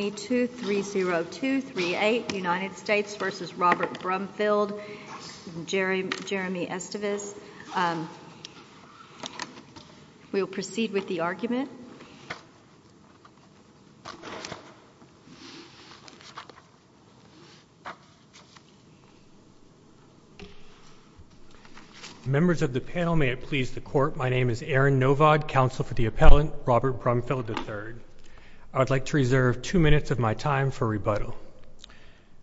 United States v. Robert Brumfield, Jeremy Estivis. We will proceed with the argument. Members of the panel, may it please the Court, my name is Aaron Novod, Counsel for the Appellant, Robert Brumfield III. I would like to reserve two minutes of my time for rebuttal.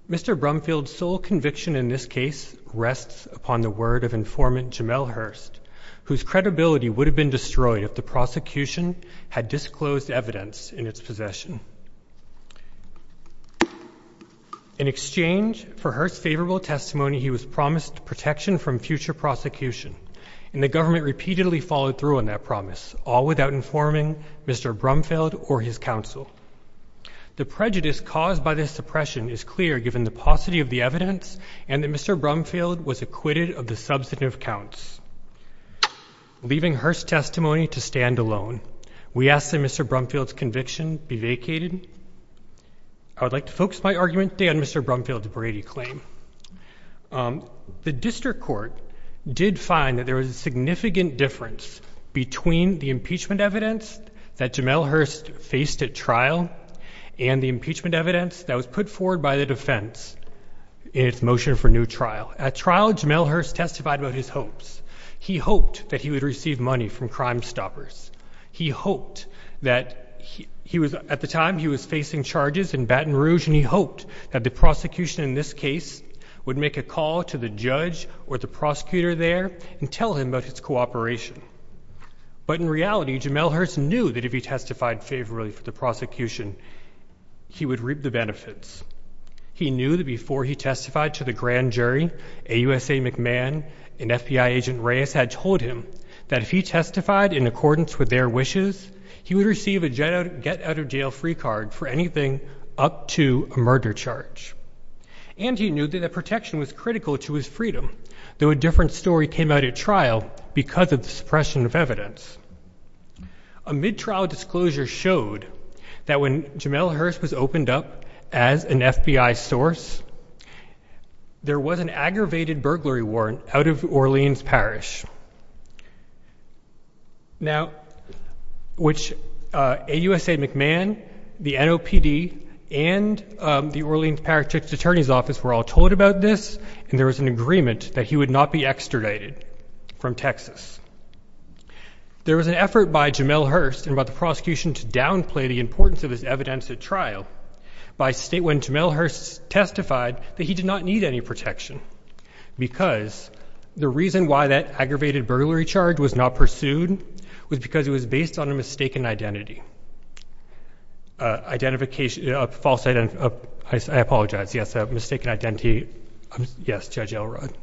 Mr. Brumfield's sole conviction in this case rests upon the word of informant Jamel Hurst, whose credibility would have been destroyed if the prosecution had disclosed evidence in its possession. In exchange for Hurst's favorable testimony, he was promised protection from future prosecution, and the government repeatedly followed through on that promise, all without informing Mr. Brumfield or his counsel. The prejudice caused by this suppression is clear given the paucity of the evidence and that Mr. Brumfield was acquitted of the substantive counts. Leaving Hurst's testimony to stand alone, we ask that Mr. Brumfield's conviction be vacated. I would like to focus my argument today on Mr. Brumfield's Brady claim. The district court did find that there was a significant difference between the impeachment evidence that Jamel Hurst faced at trial and the impeachment evidence that was put forward by the defense in its motion for new trial. At trial, Jamel Hurst testified about his hopes. He hoped that he would receive money from Crimestoppers. He hoped that he was, at the time he was facing charges in Baton Rouge, and he hoped that the prosecution in this case would make a call to the judge or the prosecutor there and tell him about his cooperation. But in reality, Jamel Hurst knew that if he testified favorably for the prosecution, he would reap the benefits. He knew that before he testified to the grand jury, AUSA McMahon and FBI agent Reyes had told him that if he testified in accordance with their wishes, he would receive a get-out-of-jail-free card for anything up to a murder charge. And he knew that the protection was critical to his freedom, though a different story came out at trial because of the suppression of evidence. A mid-trial disclosure showed that when Jamel Hurst was opened up as an FBI source, there was an aggravated burglary warrant out of Orleans Parish. Now, AUSA McMahon, the NOPD, and the Orleans Parish Attorney's Office were all told about this, and there was an agreement that he would not be extradited from Texas. There was an effort by Jamel Hurst and by the prosecution to downplay the importance of this evidence at trial when Jamel Hurst testified that he did not need any protection because the reason why that aggravated burglary charge was not pursued was because it was based on a mistaken identity. I apologize, yes, a mistaken identity. Yes, Judge Elrod.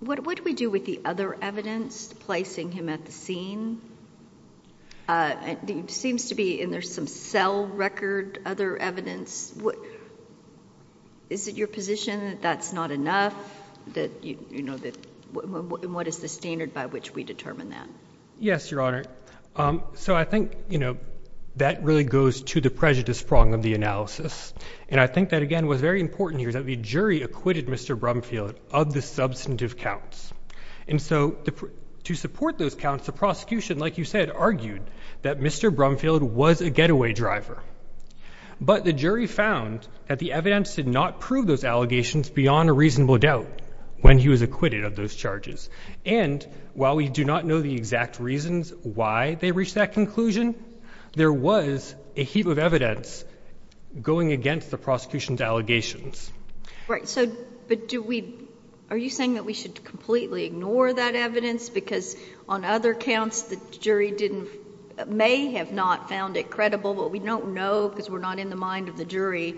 What do we do with the other evidence placing him at the scene? It seems to be in there some cell record, other evidence. Is it your position that that's not enough? What is the standard by which we determine that? Yes, Your Honor. I think that really goes to the prejudice prong of the analysis, and I think that, again, what's very important here is that the jury acquitted Mr. Brumfield of the substantive counts. To support those counts, the prosecution, like you said, argued that Mr. Brumfield was a getaway driver, but the jury found that the evidence did not prove those allegations beyond a reasonable doubt when he was acquitted of those charges, and while we do not know the exact reasons why they reached that conclusion, there was a heap of evidence going against the prosecution's allegations. Right, but are you saying that we should completely ignore that evidence because on other counts the jury may have not found it credible, but we don't know because we're not in the mind of the jury?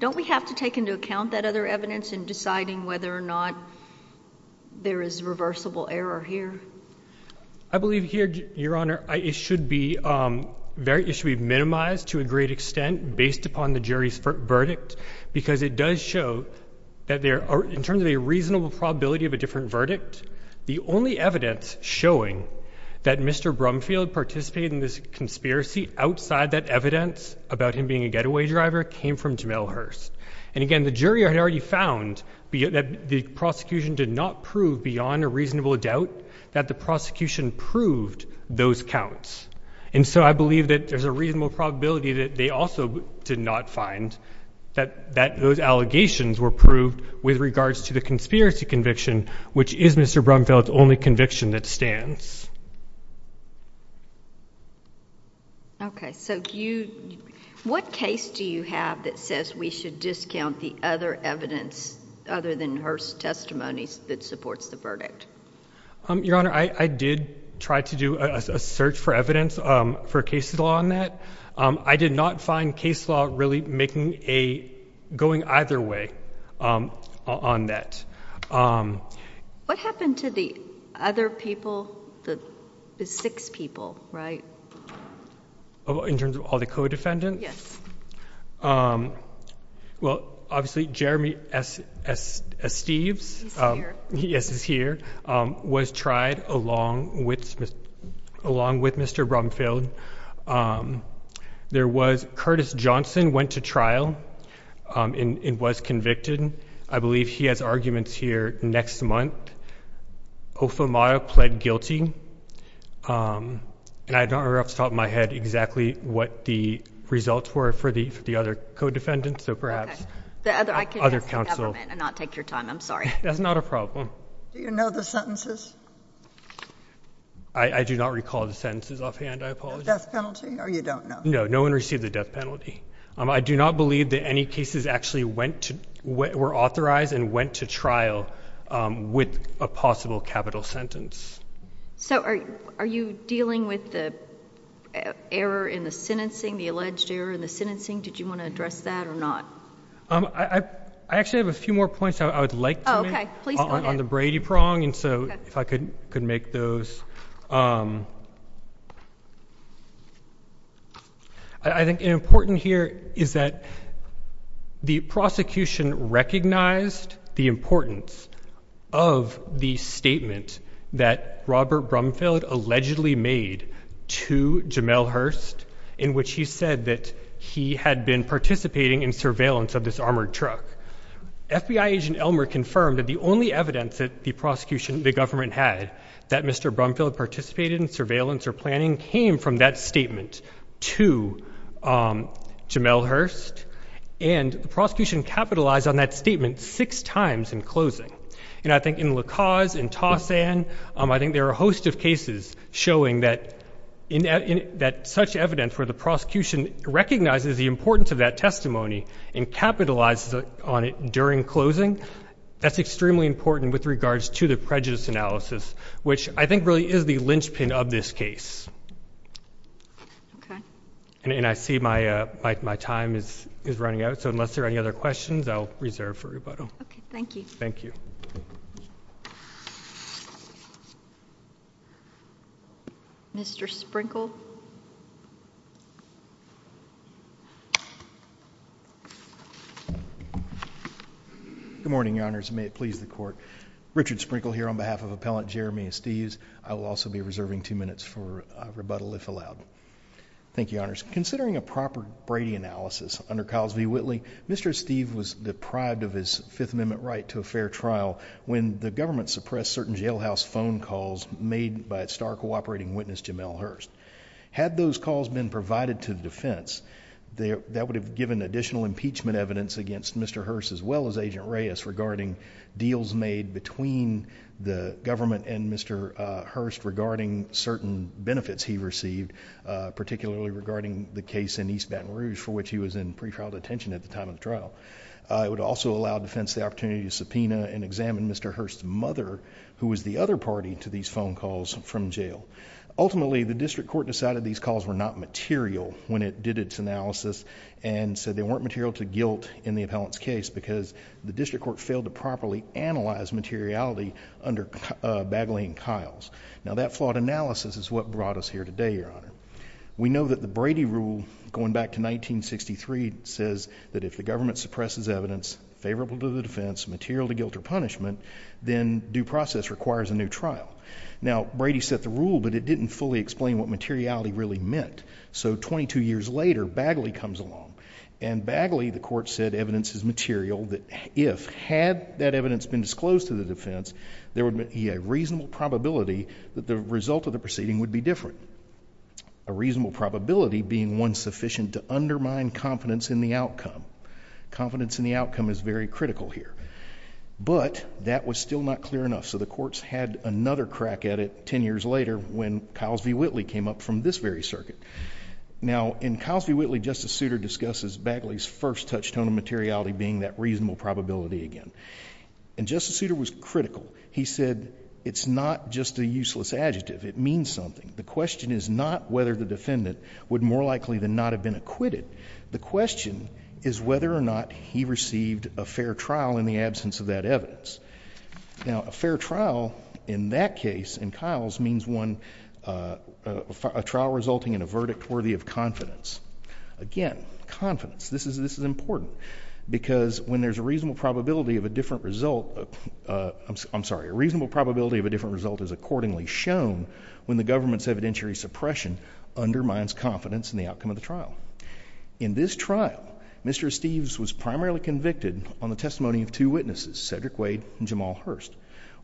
Don't we have to take into account that other evidence in deciding whether or not there is reversible error here? I believe here, Your Honor, it should be minimized to a great extent based upon the jury's verdict because it does show that in terms of a reasonable probability of a different verdict, the only evidence showing that Mr. Brumfield participated in this conspiracy outside that evidence about him being a getaway driver came from Jamel Hearst, and again, the jury had already found that the prosecution did not prove beyond a reasonable doubt that the prosecution proved those counts, and so I believe that there's a reasonable probability that they also did not find that those allegations were proved with regards to the conspiracy conviction which is Mr. Brumfield's only conviction that stands. Okay, so what case do you have that says we should discount the other evidence other than Hearst's testimony that supports the verdict? Your Honor, I did try to do a search for evidence for case law on that. I did not find case law really going either way on that. What happened to the other people, the six people, right? In terms of all the co-defendants? Yes. Well, obviously Jeremy S. Steves He's here. was tried along with Mr. Brumfield. Curtis Johnson went to trial and was convicted. I believe he has arguments here next month. Ofamaya pled guilty, and I don't remember off the top of my head exactly what the results were for the other co-defendants, so perhaps the other counsel. That's not a problem. Do you know the sentences? I do not recall the sentences offhand, I apologize. The death penalty, or you don't know? No, no one received the death penalty. I do not believe that any cases actually were authorized and went to trial with a possible capital sentence. So are you dealing with the error in the sentencing, the alleged error in the sentencing? Did you want to address that or not? I actually have a few more points I would like to make on the Brady prong, and so if I could make those. I think important here is that the prosecution recognized the importance of the statement that Robert Brumfield allegedly made to Jamel Hurst in which he said that he had been participating in surveillance of this armored truck. FBI agent Elmer confirmed that the only evidence that the prosecution, the government, had that Mr. Brumfield participated in surveillance or planning came from that statement to Jamel Hurst, and the prosecution capitalized on that statement six times in closing. And I think in La Cause, in Tau San, I think there are a host of cases showing that such evidence where the prosecution recognizes the importance of that testimony and capitalizes on it during closing, that's extremely important with regards to the prejudice analysis, which I think really is the linchpin of this case. And I see my time is running out, so unless there are any other questions, I'll reserve for rebuttal. Okay, thank you. Thank you. Mr. Sprinkle? Good morning, Your Honors. May it please the Court. Richard Sprinkle here on behalf of Appellant Jeremy Estes. I will also be reserving two minutes for rebuttal if allowed. Thank you, Your Honors. Considering a proper Brady analysis under Ciles v. Whitley, Mr. Estes was deprived of his Fifth Amendment right to a fair trial when the government suppressed certain jailhouse phone calls made by its star cooperating witness, Jamel Hurst. Had those calls been provided to the defense, that would have given additional impeachment evidence against Mr. Hurst as well as Agent Reyes regarding deals made between the government and Mr. Hurst regarding certain benefits he received, particularly regarding the case in East Baton Rouge for which he was in pre-trial detention at the time of the trial. It would also allow defense the opportunity to subpoena and examine Mr. Hurst's mother, who was the other party to these phone calls from jail. Ultimately, the district court decided these calls were not material when it did its analysis and said they weren't material to guilt in the appellant's case because the district court failed to properly analyze materiality under Bagley and Ciles. Now, that flawed analysis is what brought us here today, Your Honor. We know that the Brady rule, going back to 1963, says that if the government suppresses evidence favorable to the defense, material to guilt or punishment, then due process requires a new trial. Now, Brady set the rule, but it didn't fully explain what materiality really meant. So 22 years later, Bagley comes along. And Bagley, the court said, evidences material that if, had that evidence been disclosed to the defense, there would be a reasonable probability that the result of the proceeding would be different. A reasonable probability being one sufficient to undermine confidence in the outcome. Confidence in the outcome is very critical here. But that was still not clear enough. So the courts had another crack at it 10 years later when Ciles v. Whitley came up from this very circuit. Now, in Ciles v. Whitley, Justice Souter discusses Bagley's first touchstone of materiality being that reasonable probability again. And Justice Souter was critical. He said it's not just a useless adjective. It means something. The question is not whether the defendant would more likely than not have been acquitted. The question is whether or not he received a fair trial in the absence of that evidence. Now, a fair trial in that case, in Ciles, means one, a trial resulting in a verdict worthy of confidence. Again, confidence. This is important. Because when there's a reasonable probability of a different result, I'm sorry, a reasonable probability of a different result is accordingly shown when the government's evidentiary suppression undermines confidence in the outcome of the trial. In this trial, Mr. Steeves was primarily convicted on the testimony of two witnesses, Cedric Wade and Jamal Hurst.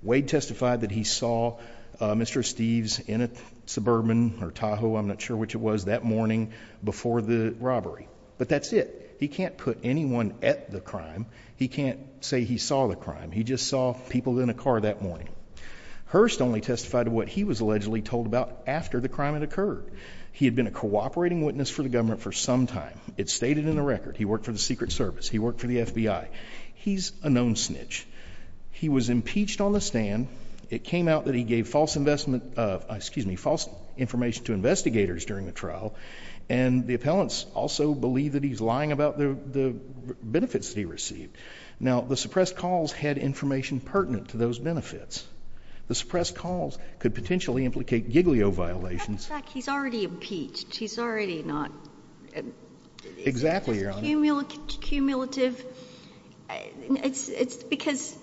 Wade testified that he saw Mr. Steeves in a Suburban or Tahoe, I'm not sure which it was, that morning before the robbery. But that's it. He can't put anyone at the crime. He can't say he saw the crime. He just saw people in a car that morning. Hurst only testified of what he was allegedly told about after the crime had occurred. He had been a cooperating witness for the government for some time. It's stated in the record. He worked for the Secret Service. He worked for the FBI. He's a known snitch. He was impeached on the stand. It came out that he gave false investment of, excuse me, false information to investigators during the trial. And the appellants also believe that he's lying about the benefits that he received. Now, the suppressed calls had information pertinent to those benefits. The suppressed calls could potentially implicate giglio violations. He's already impeached. He's already not. Exactly, Your Honor. Cumulative. It's because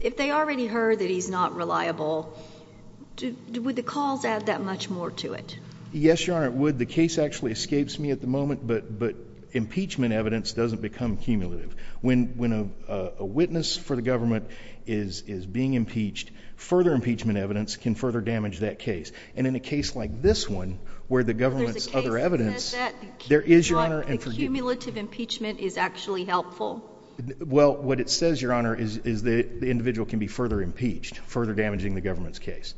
if they already heard that he's not reliable, would the calls add that much more to it? Yes, Your Honor, it would. The case actually escapes me at the moment, but impeachment evidence doesn't become cumulative. When a witness for the government is being impeached, further impeachment evidence can further damage that case. And in a case like this one, where the government's other evidence, there is, Your Honor. The cumulative impeachment is actually helpful. Well, what it says, Your Honor, is that the individual can be further impeached, further damaging the government's case.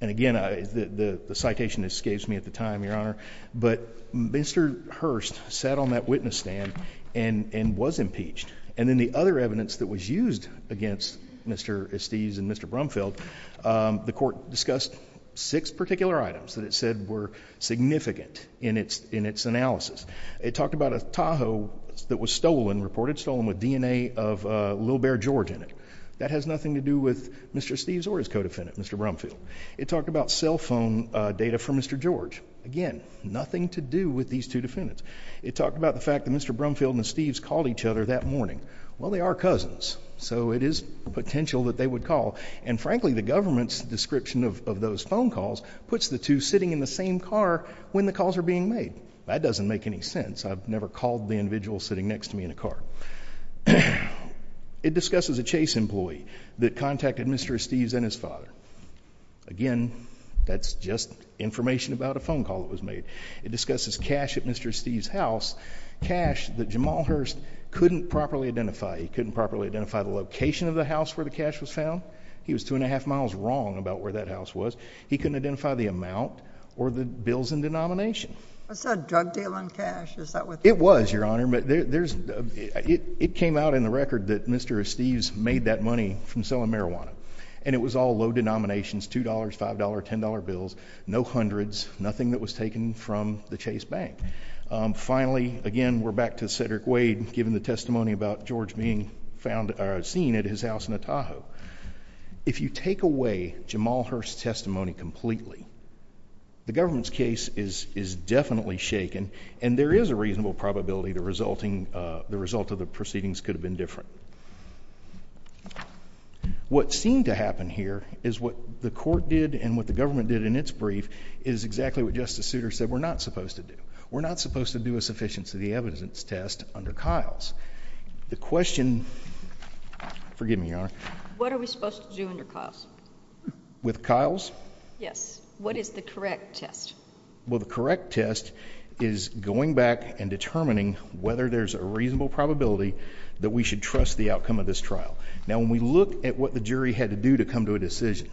And, again, the citation escapes me at the time, Your Honor. But Mr. Hurst sat on that witness stand and was impeached. And then the other evidence that was used against Mr. Estes and Mr. Brumfield, the court discussed six particular items that it said were significant in its analysis. It talked about a Tahoe that was stolen, reported stolen, with DNA of a little bear George in it. That has nothing to do with Mr. Estes or his co-defendant, Mr. Brumfield. It talked about cell phone data from Mr. George. Again, nothing to do with these two defendants. It talked about the fact that Mr. Brumfield and Mr. Estes called each other that morning. Well, they are cousins, so it is potential that they would call. And, frankly, the government's description of those phone calls puts the two sitting in the same car when the calls are being made. That doesn't make any sense. I've never called the individual sitting next to me in a car. It discusses a chase employee that contacted Mr. Estes and his father. Again, that's just information about a phone call that was made. It discusses cash at Mr. Estes' house, cash that Jamal Hurst couldn't properly identify. He couldn't properly identify the location of the house where the cash was found. He was two and a half miles wrong about where that house was. He couldn't identify the amount or the bills in denomination. Was that a drug deal in cash? It was, Your Honor. It came out in the record that Mr. Estes made that money from selling marijuana, and it was all low denominations, $2, $5, $10 bills, no hundreds, nothing that was taken from the Chase Bank. Finally, again, we're back to Cedric Wade giving the testimony about George being seen at his house in Otaho. If you take away Jamal Hurst's testimony completely, the government's case is definitely shaken, and there is a reasonable probability the result of the proceedings could have been different. What seemed to happen here is what the court did and what the government did in its brief is exactly what Justice Souter said we're not supposed to do. We're not supposed to do a sufficiency of the evidence test under Kyle's. The question, forgive me, Your Honor. What are we supposed to do under Kyle's? With Kyle's? Yes. What is the correct test? Well, the correct test is going back and determining whether there's a reasonable probability that we should trust the outcome of this trial. Now, when we look at what the jury had to do to come to a decision,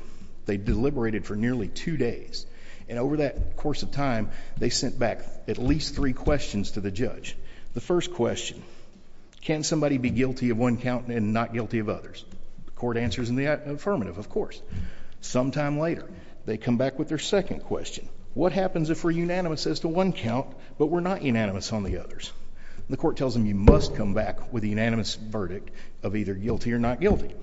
they deliberated for nearly two days, and over that course of time, they sent back at least three questions to the judge. The first question, can somebody be guilty of one count and not guilty of others? The court answers in the affirmative, of course. Sometime later, they come back with their second question, what happens if we're unanimous as to one count, but we're not unanimous on the others? The court tells them you must come back with a unanimous verdict of either guilty or not guilty.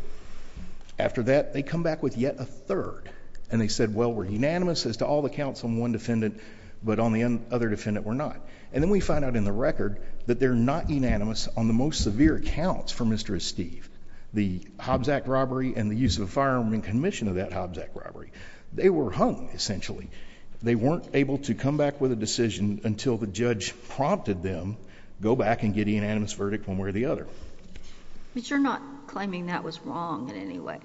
After that, they come back with yet a third, and they said, well, we're unanimous as to all the counts on one defendant, but on the other defendant, we're not. And then we find out in the record that they're not unanimous on the most severe counts for Mr. Estive, the Hobbs Act robbery and the use of a firearm in commission of that Hobbs Act robbery. They were hung, essentially. They weren't able to come back with a decision until the judge prompted them, go back and get a unanimous verdict one way or the other. But you're not claiming that was wrong in any way?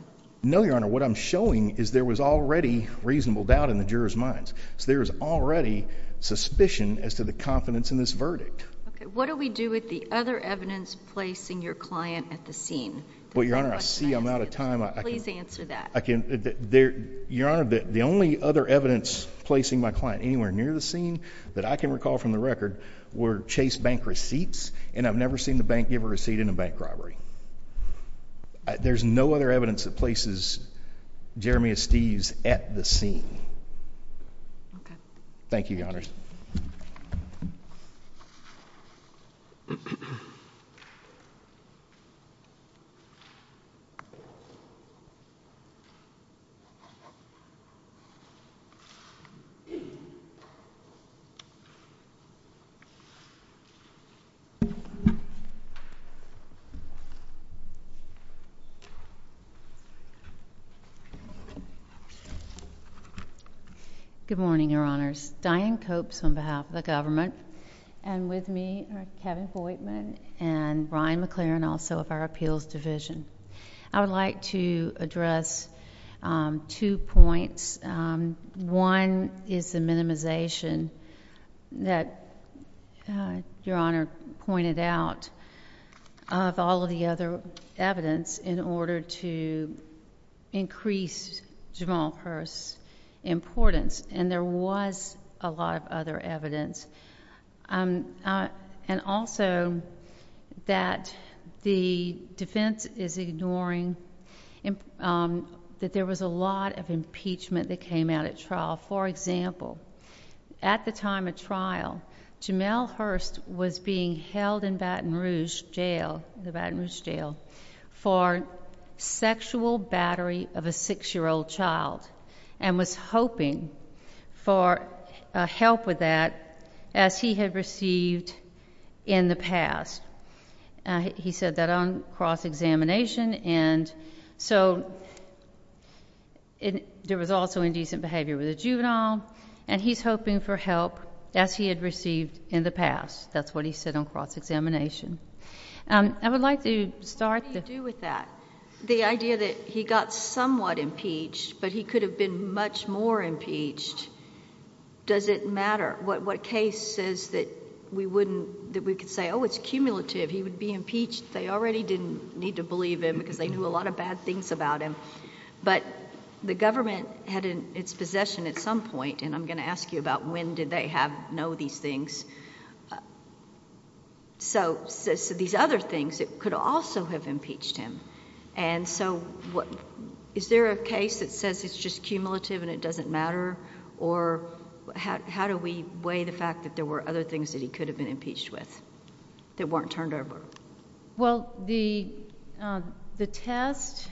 No, Your Honor. What I'm showing is there was already reasonable doubt in the jurors' minds, so there was already suspicion as to the confidence in this verdict. Okay. What do we do with the other evidence placing your client at the scene? Well, Your Honor, I see I'm out of time. Please answer that. Your Honor, the only other evidence placing my client anywhere near the scene that I can recall from the record were Chase Bank receipts, and I've never seen the bank give a receipt in a bank robbery. There's no other evidence that places Jeremy Estive at the scene. Okay. Thank you, Your Honor. Good morning, Your Honors. Diane Copes on behalf of the government, and with me are Kevin Hoytman and Brian McClaren, also of our Appeals Division. I would like to address two points. One is the minimization that Your Honor pointed out of all of the other evidence in order to increase Jamal Peirce's importance, and there was a lot of other evidence. And also that the defense is ignoring that there was a lot of impeachment that came out at trial. For example, at the time of trial, Jamal Hearst was being held in Baton Rouge Jail, the Baton Rouge Jail, for sexual battery of a six-year-old child and was hoping for help with that as he had received in the past. He said that on cross-examination. And so there was also indecent behavior with a juvenile, and he's hoping for help as he had received in the past. That's what he said on cross-examination. I would like to start with that. The idea that he got somewhat impeached, but he could have been much more impeached, does it matter? What case says that we wouldn't, that we could say, oh, it's cumulative, he would be impeached, they already didn't need to believe him because they knew a lot of bad things about him. But the government had its possession at some point, and I'm going to ask you about when did they know these things. So these other things, it could also have impeached him. And so is there a case that says it's just cumulative and it doesn't matter, or how do we weigh the fact that there were other things that he could have been impeached with that weren't turned over? Well, the test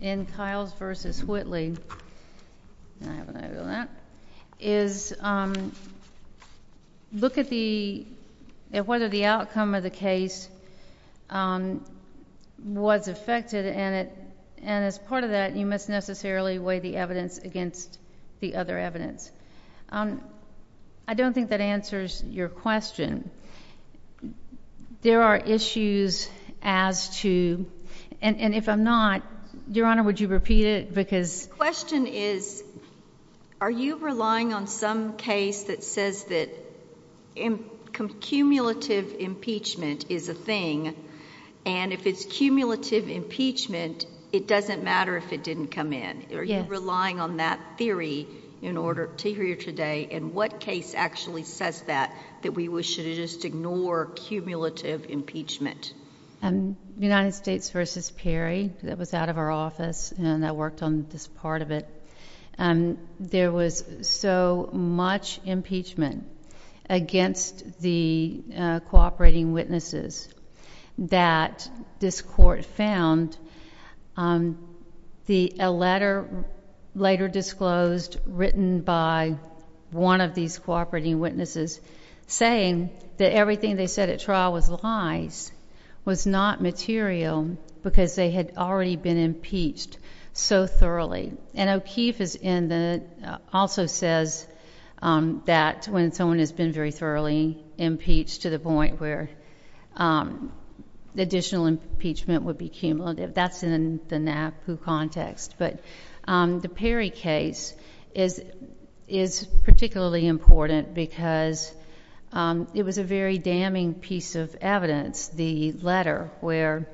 in Kiles v. Whitley is, look at whether the outcome of the case was affected, and as part of that you must necessarily weigh the evidence against the other evidence. I don't think that answers your question. There are issues as to, and if I'm not, Your Honor, would you repeat it? The question is, are you relying on some case that says that cumulative impeachment is a thing, and if it's cumulative impeachment, it doesn't matter if it didn't come in? Are you relying on that theory to hear today, and what case actually says that, that we should just ignore cumulative impeachment? United States v. Perry. That was out of our office, and I worked on this part of it. There was so much impeachment against the cooperating witnesses that this court found a letter later disclosed, written by one of these cooperating witnesses, saying that everything they said at trial was lies, was not material because they had already been impeached so thoroughly, and O'Keefe also says that when someone has been very thoroughly impeached to the point where additional impeachment would be cumulative, that's in the NAPU context, but the Perry case is particularly important because it was a very damning piece of evidence, the letter where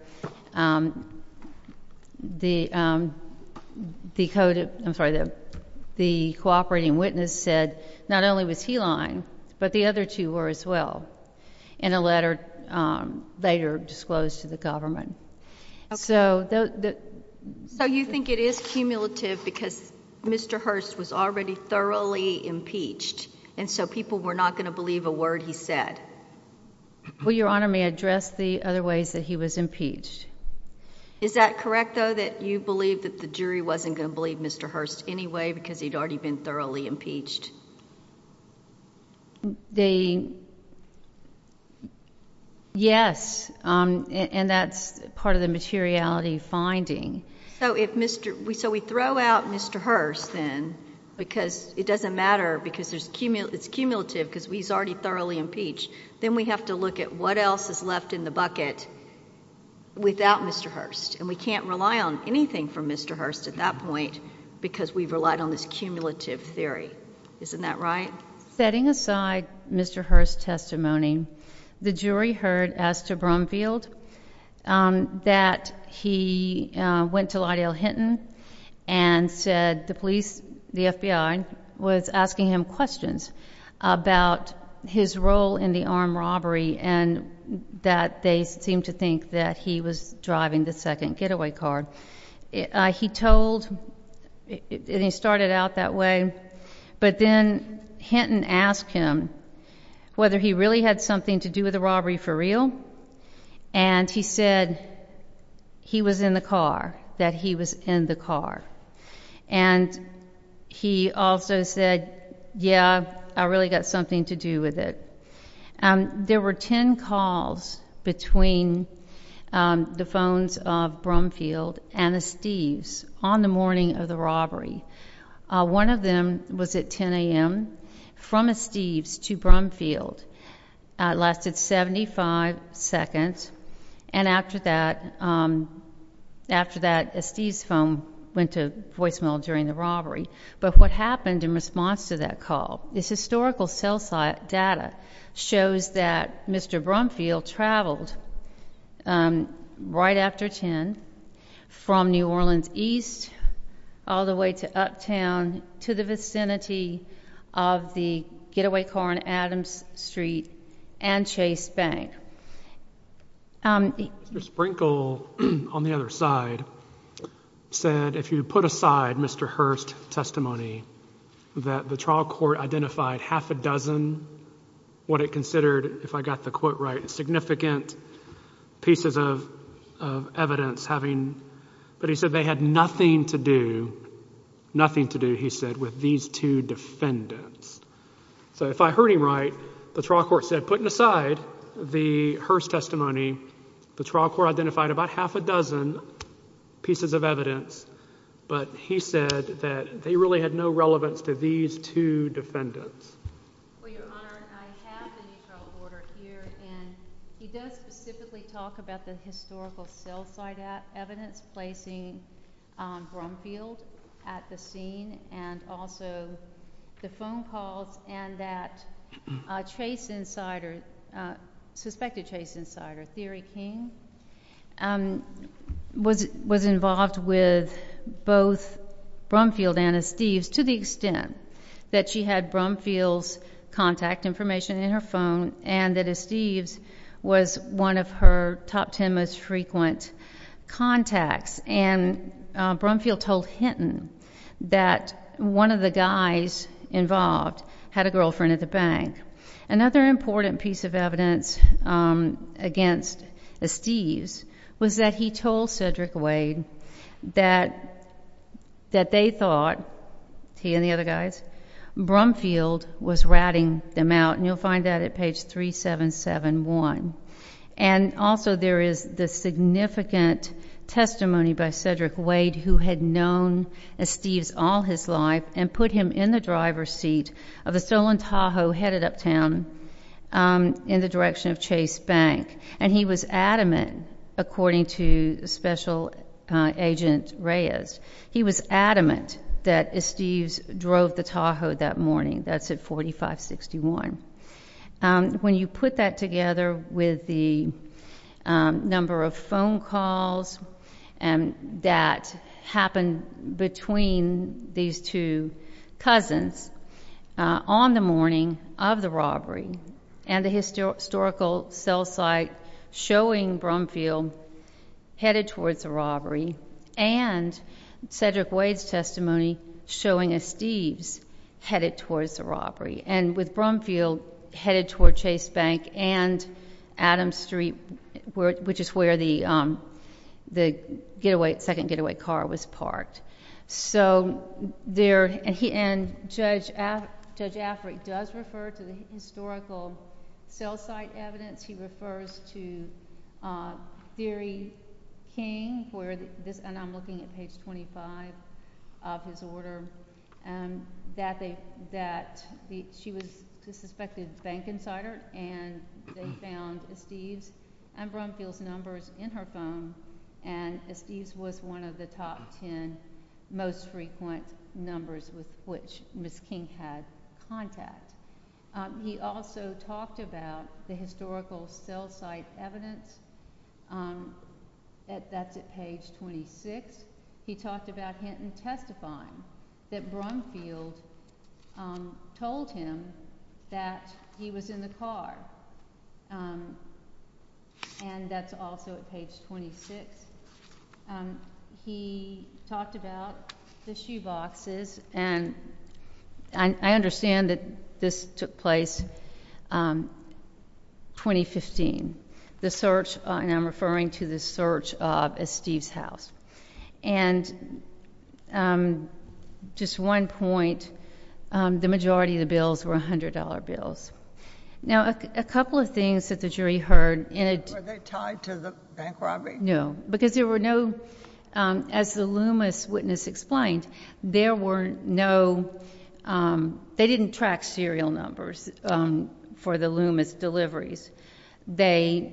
the cooperating witness said not only was he lying, but the other two were as well, in a letter later disclosed to the government. So you think it is cumulative because Mr. Hurst was already thoroughly impeached, and so people were not going to believe a word he said? Well, Your Honor, may I address the other ways that he was impeached? Is that correct, though, that you believe that the jury wasn't going to believe Mr. Hurst anyway because he'd already been thoroughly impeached? Yes, and that's part of the materiality finding. So we throw out Mr. Hurst then because it doesn't matter because it's cumulative because he's already thoroughly impeached. Then we have to look at what else is left in the bucket without Mr. Hurst, and we can't rely on anything from Mr. Hurst at that point because we've relied on this cumulative theory. Isn't that right? Setting aside Mr. Hurst's testimony, the jury heard as to Brumfield that he went to Lydell Hinton and said the FBI was asking him questions about his role in the armed robbery and that they seemed to think that he was driving the second getaway car. He told, and he started out that way, but then Hinton asked him whether he really had something to do with the robbery for real, and he said he was in the car, that he was in the car. And he also said, yeah, I really got something to do with it. There were ten calls between the phones of Brumfield and Esteves on the morning of the robbery. One of them was at 10 a.m. from Esteves to Brumfield. It lasted 75 seconds, and after that, Esteves' phone went to voicemail during the robbery. But what happened in response to that call? This historical cell data shows that Mr. Brumfield traveled right after 10 from New Orleans East all the way to Uptown to the vicinity of the getaway car on Adams Street and Chase Bank. Mr. Sprinkle, on the other side, said if you put aside Mr. Hurst's testimony that the trial court identified half a dozen what it considered, if I got the quote right, significant pieces of evidence having, but he said they had nothing to do, nothing to do, he said, with these two defendants. So if I heard him right, the trial court said, putting aside the Hurst testimony, the trial court identified about half a dozen pieces of evidence, but he said that they really had no relevance to these two defendants. Well, Your Honor, I have the neutral order here, and he does specifically talk about the historical cell site evidence placing Brumfield at the scene and also the phone calls and that Chase insider, suspected Chase insider, Theory King, was involved with both Brumfield and Esteves to the extent that she had Brumfield's contact information in her phone and that Esteves was one of her top ten most frequent contacts. And Brumfield told Hinton that one of the guys involved had a girlfriend at the bank. Another important piece of evidence against Esteves was that he told Cedric Wade that they thought, he and the other guys, Brumfield was ratting them out, and you'll find that at page 3771. And also there is the significant testimony by Cedric Wade who had known Esteves all his life and put him in the driver's seat of a stolen Tahoe headed uptown in the direction of Chase Bank. And he was adamant, according to Special Agent Reyes, he was adamant that Esteves drove the Tahoe that morning. That's at 4561. When you put that together with the number of phone calls that happened between these two cousins on the morning of the robbery and the historical cell site showing Brumfield headed towards the robbery and Cedric Wade's testimony showing Esteves headed towards the robbery and with Brumfield headed towards Chase Bank and Adams Street, which is where the second getaway car was parked. So there, and Judge Affrey does refer to the historical cell site evidence. He refers to Theory King, and I'm looking at page 25 of his order, that she was a suspected bank insider and they found Esteves and Brumfield's numbers in her phone, and Esteves was one of the top ten most frequent numbers with which Ms. King had contact. He also talked about the historical cell site evidence. That's at page 26. He talked about Hinton testifying that Brumfield told him that he was in the car. And that's also at page 26. He talked about the shoeboxes, and I understand that this took place 2015. The search, and I'm referring to the search of Esteves' house. And just one point, the majority of the bills were $100 bills. Now, a couple of things that the jury heard. Were they tied to the bank robbery? No, because there were no, as the Loomis witness explained, there were no, they didn't track serial numbers for the Loomis deliveries. They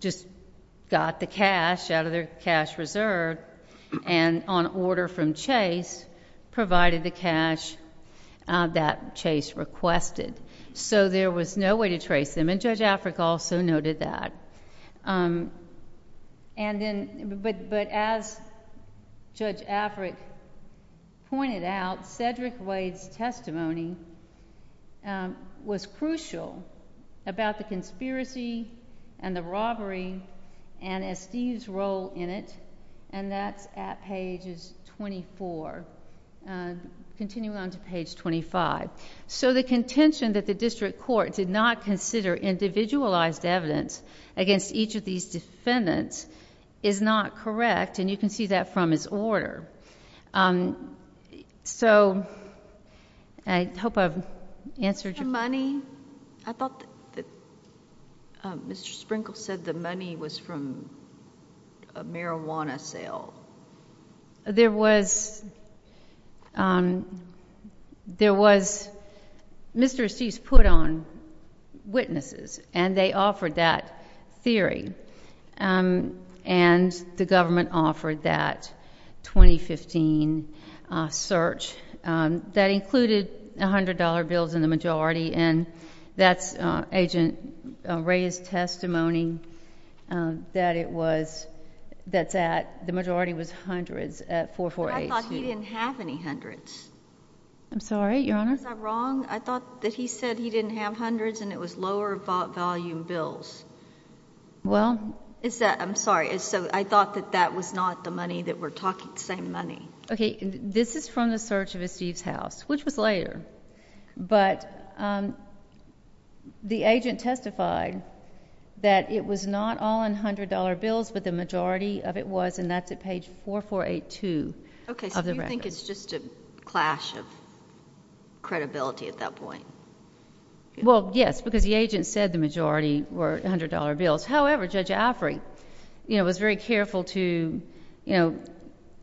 just got the cash out of their cash reserve, and on order from Chase, provided the cash that Chase requested. So there was no way to trace them, and Judge Afric also noted that. But as Judge Afric pointed out, Cedric Wade's testimony was crucial about the conspiracy and the robbery and Esteves' role in it, and that's at page 24. Continuing on to page 25. So the contention that the district court did not consider individualized evidence against each of these defendants is not correct, and you can see that from his order. So, I hope I've answered your question. The money, I thought that Mr. Sprinkles said the money was from a marijuana sale. There was, Mr. Esteves put on witnesses, and they offered that theory, and the government offered that 2015 search that included $100 bills in the majority, and that's Agent Ray's testimony that it was, that the majority was hundreds at 448. But I thought he didn't have any hundreds. I'm sorry, Your Honor? Was I wrong? I thought that he said he didn't have hundreds and it was lower volume bills. Well. I'm sorry. So I thought that that was not the money that we're talking, the same money. Okay, this is from the search of Esteves' house, which was later. But the agent testified that it was not all in $100 bills, but the majority of it was, and that's at page 4482 of the record. Okay, so you think it's just a clash of credibility at that point? Well, yes, because the agent said the majority were $100 bills. However, Judge Afrey was very careful to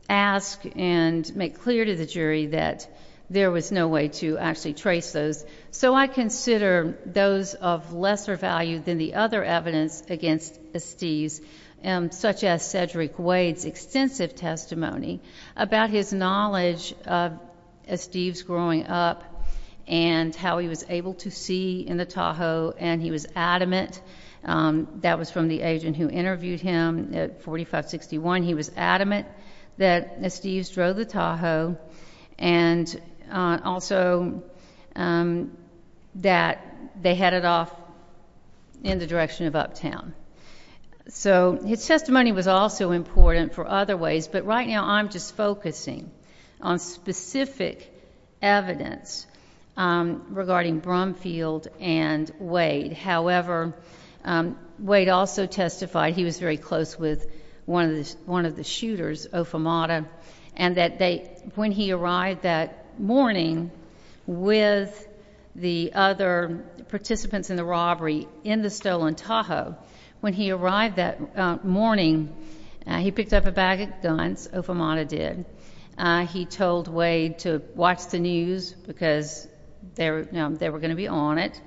ask and make clear to the jury that there was no way to actually trace those. So I consider those of lesser value than the other evidence against Esteves, such as Cedric Wade's extensive testimony about his knowledge of Esteves' growing up and how he was able to see in the Tahoe, and he was adamant. That was from the agent who interviewed him at 4561. He was adamant that Esteves drove the Tahoe and also that they headed off in the direction of uptown. So his testimony was also important for other ways, but right now I'm just focusing on specific evidence regarding Brumfield and Wade. However, Wade also testified he was very close with one of the shooters, Ofamata, and that when he arrived that morning with the other participants in the robbery in the stolen Tahoe, when he arrived that morning, he picked up a bag of guns, Ofamata did. He told Wade to watch the news because they were going to be on it,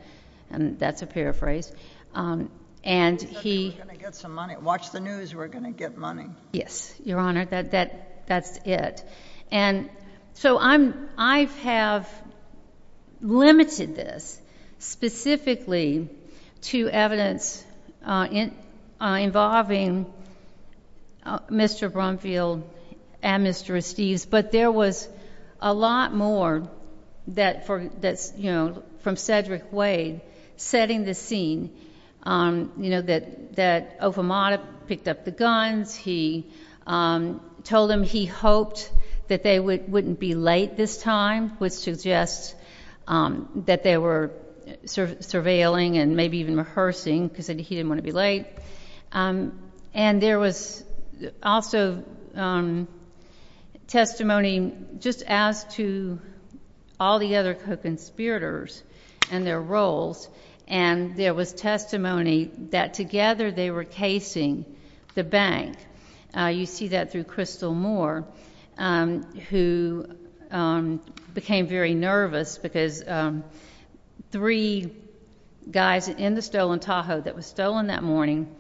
and that's a paraphrase. He said, we're going to get some money. Watch the news, we're going to get money. Yes, Your Honor, that's it. And so I have limited this specifically to evidence involving Mr. Brumfield and Mr. Esteves, but there was a lot more from Cedric Wade setting the scene that Ofamata picked up the guns. He told him he hoped that they wouldn't be late this time, which suggests that they were surveilling and maybe even rehearsing because he didn't want to be late. And there was also testimony just as to all the other conspirators and their roles, and there was testimony that together they were casing the bank. You see that through Crystal Moore, who became very nervous because three guys in the stolen Tahoe that was stolen that morning,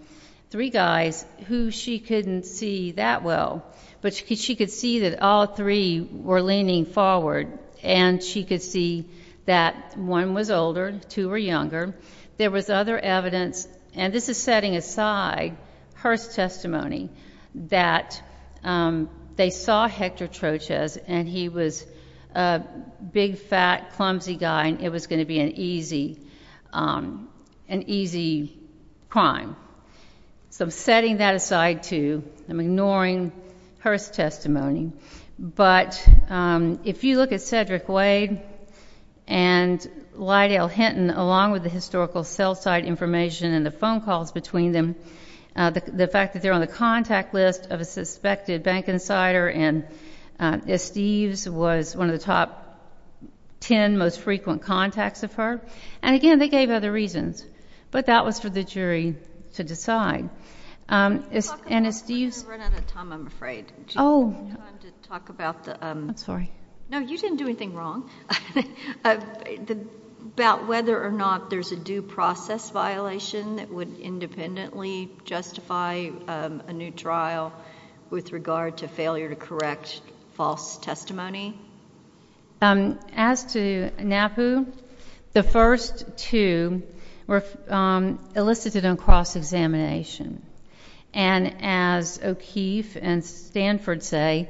three guys who she couldn't see that well, but she could see that all three were leaning forward, and she could see that one was older, two were younger. There was other evidence, and this is setting aside Hurst's testimony, that they saw Hector Trochez, and he was a big, fat, clumsy guy, and it was going to be an easy crime. So I'm setting that aside, too. I'm ignoring Hurst's testimony. But if you look at Cedric Wade and Lydell Hinton, along with the historical cell site information and the phone calls between them, the fact that they're on the contact list of a suspected bank insider, and Steve's was one of the top ten most frequent contacts of her. And again, they gave other reasons, but that was for the jury to decide. And Steve's— You're running out of time, I'm afraid. Oh. Do you have time to talk about the— I'm sorry. No, you didn't do anything wrong. About whether or not there's a due process violation that would independently justify a new trial with regard to failure to correct false testimony? As to NAPU, the first two were elicited on cross-examination. And as O'Keefe and Stanford say,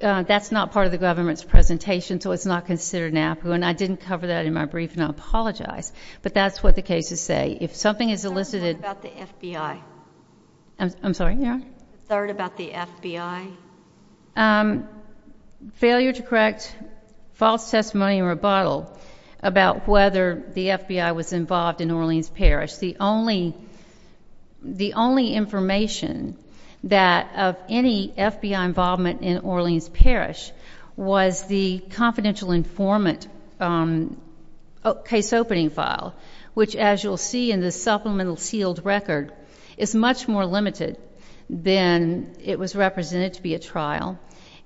that's not part of the government's presentation, so it's not considered NAPU, and I didn't cover that in my brief, and I apologize. But that's what the cases say. If something is elicited— Third about the FBI. I'm sorry, yeah? Third about the FBI. Failure to correct false testimony or rebuttal about whether the FBI was involved in Orleans Parish. The only information of any FBI involvement in Orleans Parish was the confidential informant case opening file, which, as you'll see in the supplemental sealed record, is much more limited than it was represented to be a trial.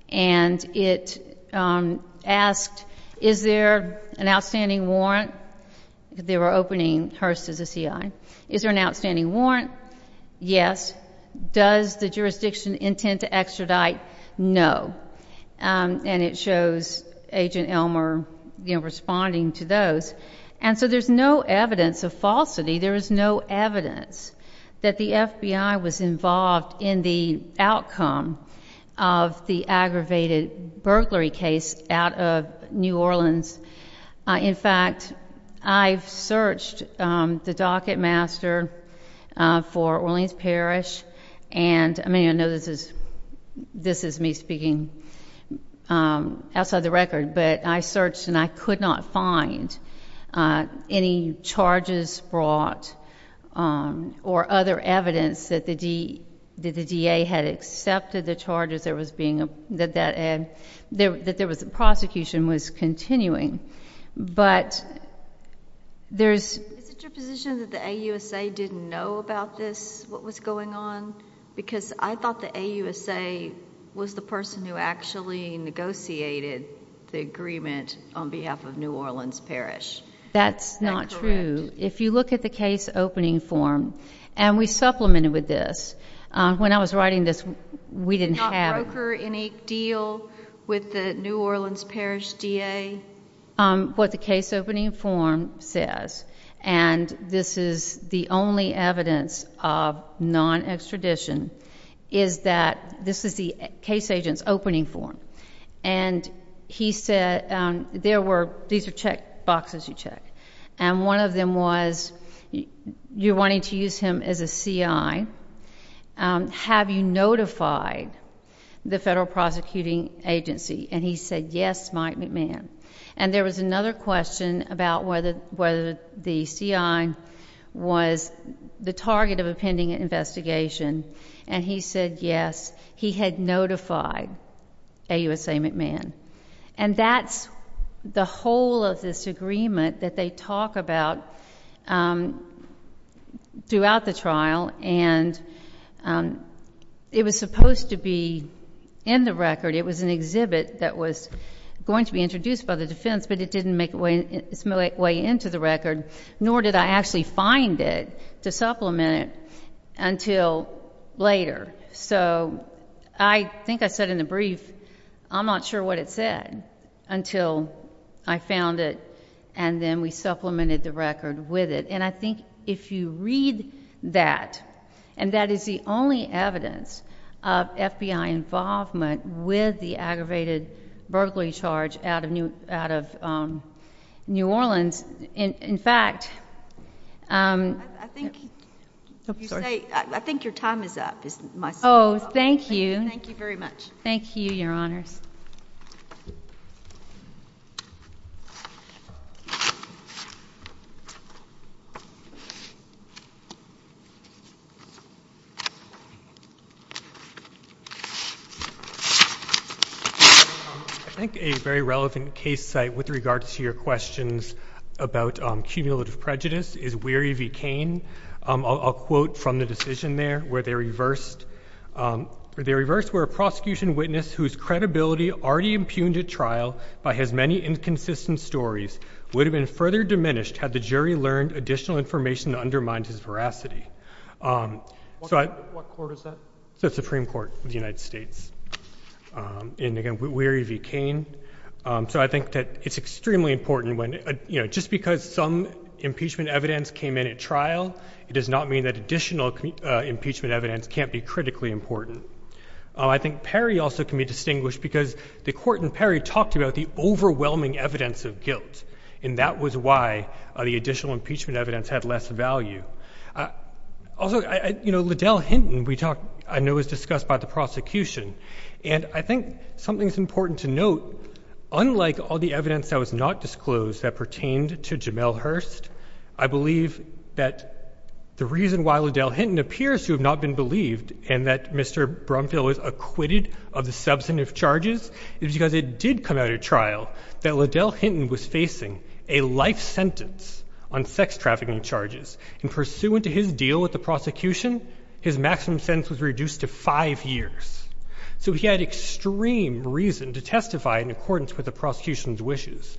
And it asked, is there an outstanding warrant? They were opening Hearst as a CI. Is there an outstanding warrant? Yes. Does the jurisdiction intend to extradite? No. And it shows Agent Elmer responding to those. And so there's no evidence of falsity. There is no evidence that the FBI was involved in the outcome of the aggravated burglary case out of New Orleans. In fact, I've searched the docketmaster for Orleans Parish, and I mean, I know this is me speaking outside the record, but I searched and I could not find any charges brought or other evidence that the DA had accepted the charges that there was prosecution was continuing. But there's— Is it your position that the AUSA didn't know about this, what was going on? Because I thought the AUSA was the person who actually negotiated the agreement on behalf of New Orleans Parish. That's not true. That's correct. If you look at the case opening form, and we supplemented with this. When I was writing this, we didn't have— Did not broker any deal with the New Orleans Parish DA? What the case opening form says, and this is the only evidence of non-extradition, is that this is the case agent's opening form. And he said, these are check boxes you check. And one of them was, you're wanting to use him as a CI. Have you notified the federal prosecuting agency? And he said, yes, Mike McMahon. And there was another question about whether the CI was the target of a pending investigation. And he said, yes, he had notified AUSA McMahon. And that's the whole of this agreement that they talk about throughout the trial. And it was supposed to be in the record. It was an exhibit that was going to be introduced by the defense, but it didn't make its way into the record, nor did I actually find it to supplement it until later. So I think I said in the brief, I'm not sure what it said until I found it, and then we supplemented the record with it. And I think if you read that, and that is the only evidence of FBI involvement with the aggravated burglary charge out of New Orleans. In fact, I think your time is up. Oh, thank you. Thank you very much. Thank you, Your Honors. I think a very relevant case site with regards to your questions about cumulative prejudice is Weary v. Cain. I'll quote from the decision there, where they reversed, where a prosecution witness whose credibility already impugned at trial by his many inconsistent stories would have been further diminished had the jury learned additional information to undermine his veracity. What court is that? It's the Supreme Court of the United States. And again, Weary v. Cain. So I think that it's extremely important when, you know, just because some impeachment evidence came in at trial, it does not mean that additional impeachment evidence can't be critically important. I think Perry also can be distinguished because the court in Perry talked about the overwhelming evidence of guilt, and that was why the additional impeachment evidence had less value. Also, you know, Liddell Hinton, I know, was discussed by the prosecution. And I think something's important to note. Unlike all the evidence that was not disclosed that pertained to Jamel Hurst, I believe that the reason why Liddell Hinton appears to have not been believed and that Mr. Brumfield was acquitted of the substantive charges is because it did come out at trial that Liddell Hinton was facing a life sentence on sex trafficking charges. And pursuant to his deal with the prosecution, his maximum sentence was reduced to five years. So he had extreme reason to testify in accordance with the prosecution's wishes.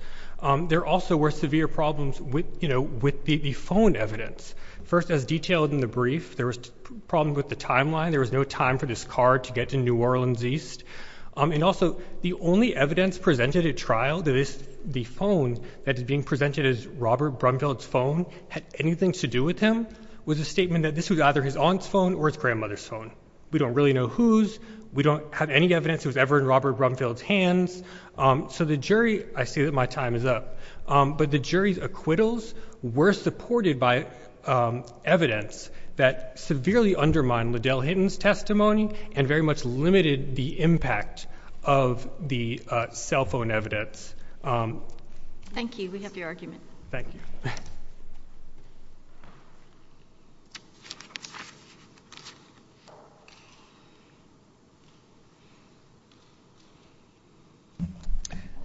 There also were severe problems with, you know, with the phone evidence. First, as detailed in the brief, there was a problem with the timeline. There was no time for this car to get to New Orleans East. And also, the only evidence presented at trial, the phone that is being presented as Robert Brumfield's phone had anything to do with him, was a statement that this was either his aunt's phone or his grandmother's phone. We don't really know whose. We don't have any evidence that was ever in Robert Brumfield's hands. So the jury—I say that my time is up—but the jury's acquittals were supported by evidence that severely undermined Liddell Hinton's testimony and very much limited the impact of the cell phone evidence. Thank you. We have your argument. Thank you.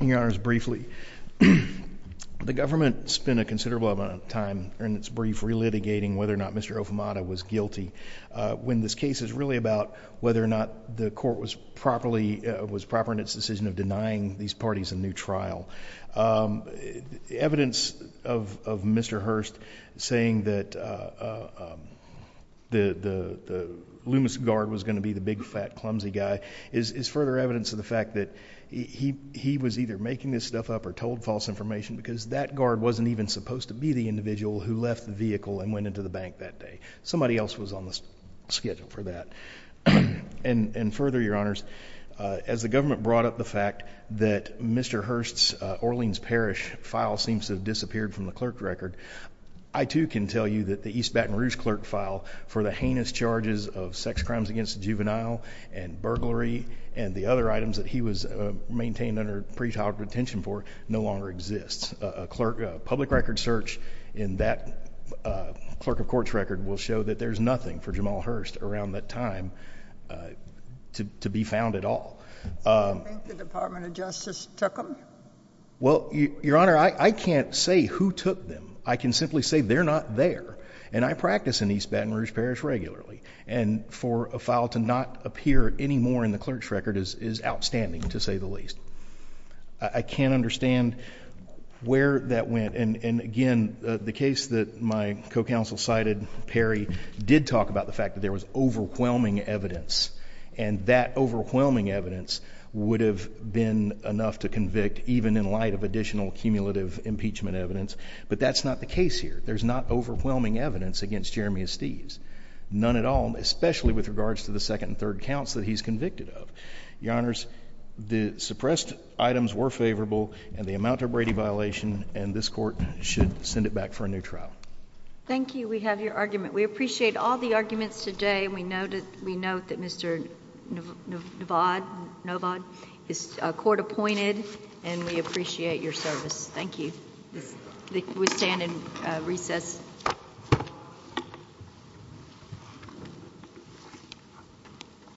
Your Honors, briefly, the government spent a considerable amount of time in its brief relitigating whether or not Mr. Ofemata was guilty, when this case is really about whether or not the court was proper in its decision of denying these parties a new trial. Evidence of Mr. Hurst saying that the Loomis guard was going to be the big, fat, clumsy guy is further evidence of the fact that he was either making this stuff up or told false information because that guard wasn't even supposed to be the individual who left the vehicle and went into the bank that day. Somebody else was on the schedule for that. And further, Your Honors, as the government brought up the fact that Mr. Hurst's Orleans Parish file seems to have disappeared from the clerk record, I too can tell you that the East Baton Rouge clerk file for the heinous charges of sex crimes against the juvenile and burglary and the other items that he was maintained under pretrial detention for no longer exists. A public record search in that clerk of courts record will show that there's nothing for Jamal Hurst around that time to be found at all. Do you think the Department of Justice took them? Well, Your Honor, I can't say who took them. I can simply say they're not there. And I practice in East Baton Rouge Parish regularly. And for a file to not appear anymore in the clerk's record is outstanding, to say the least. I can't understand where that went. And, again, the case that my co-counsel cited, Perry, did talk about the fact that there was overwhelming evidence. And that overwhelming evidence would have been enough to convict, even in light of additional cumulative impeachment evidence. But that's not the case here. There's not overwhelming evidence against Jeremy Estes. None at all, especially with regards to the second and third counts that he's convicted of. Your Honors, the suppressed items were favorable. And they amount to a Brady violation. And this court should send it back for a new trial. Thank you. We have your argument. We appreciate all the arguments today. And we note that Mr. Novod is court appointed. And we appreciate your service. Thank you. We stand in recess. Recess.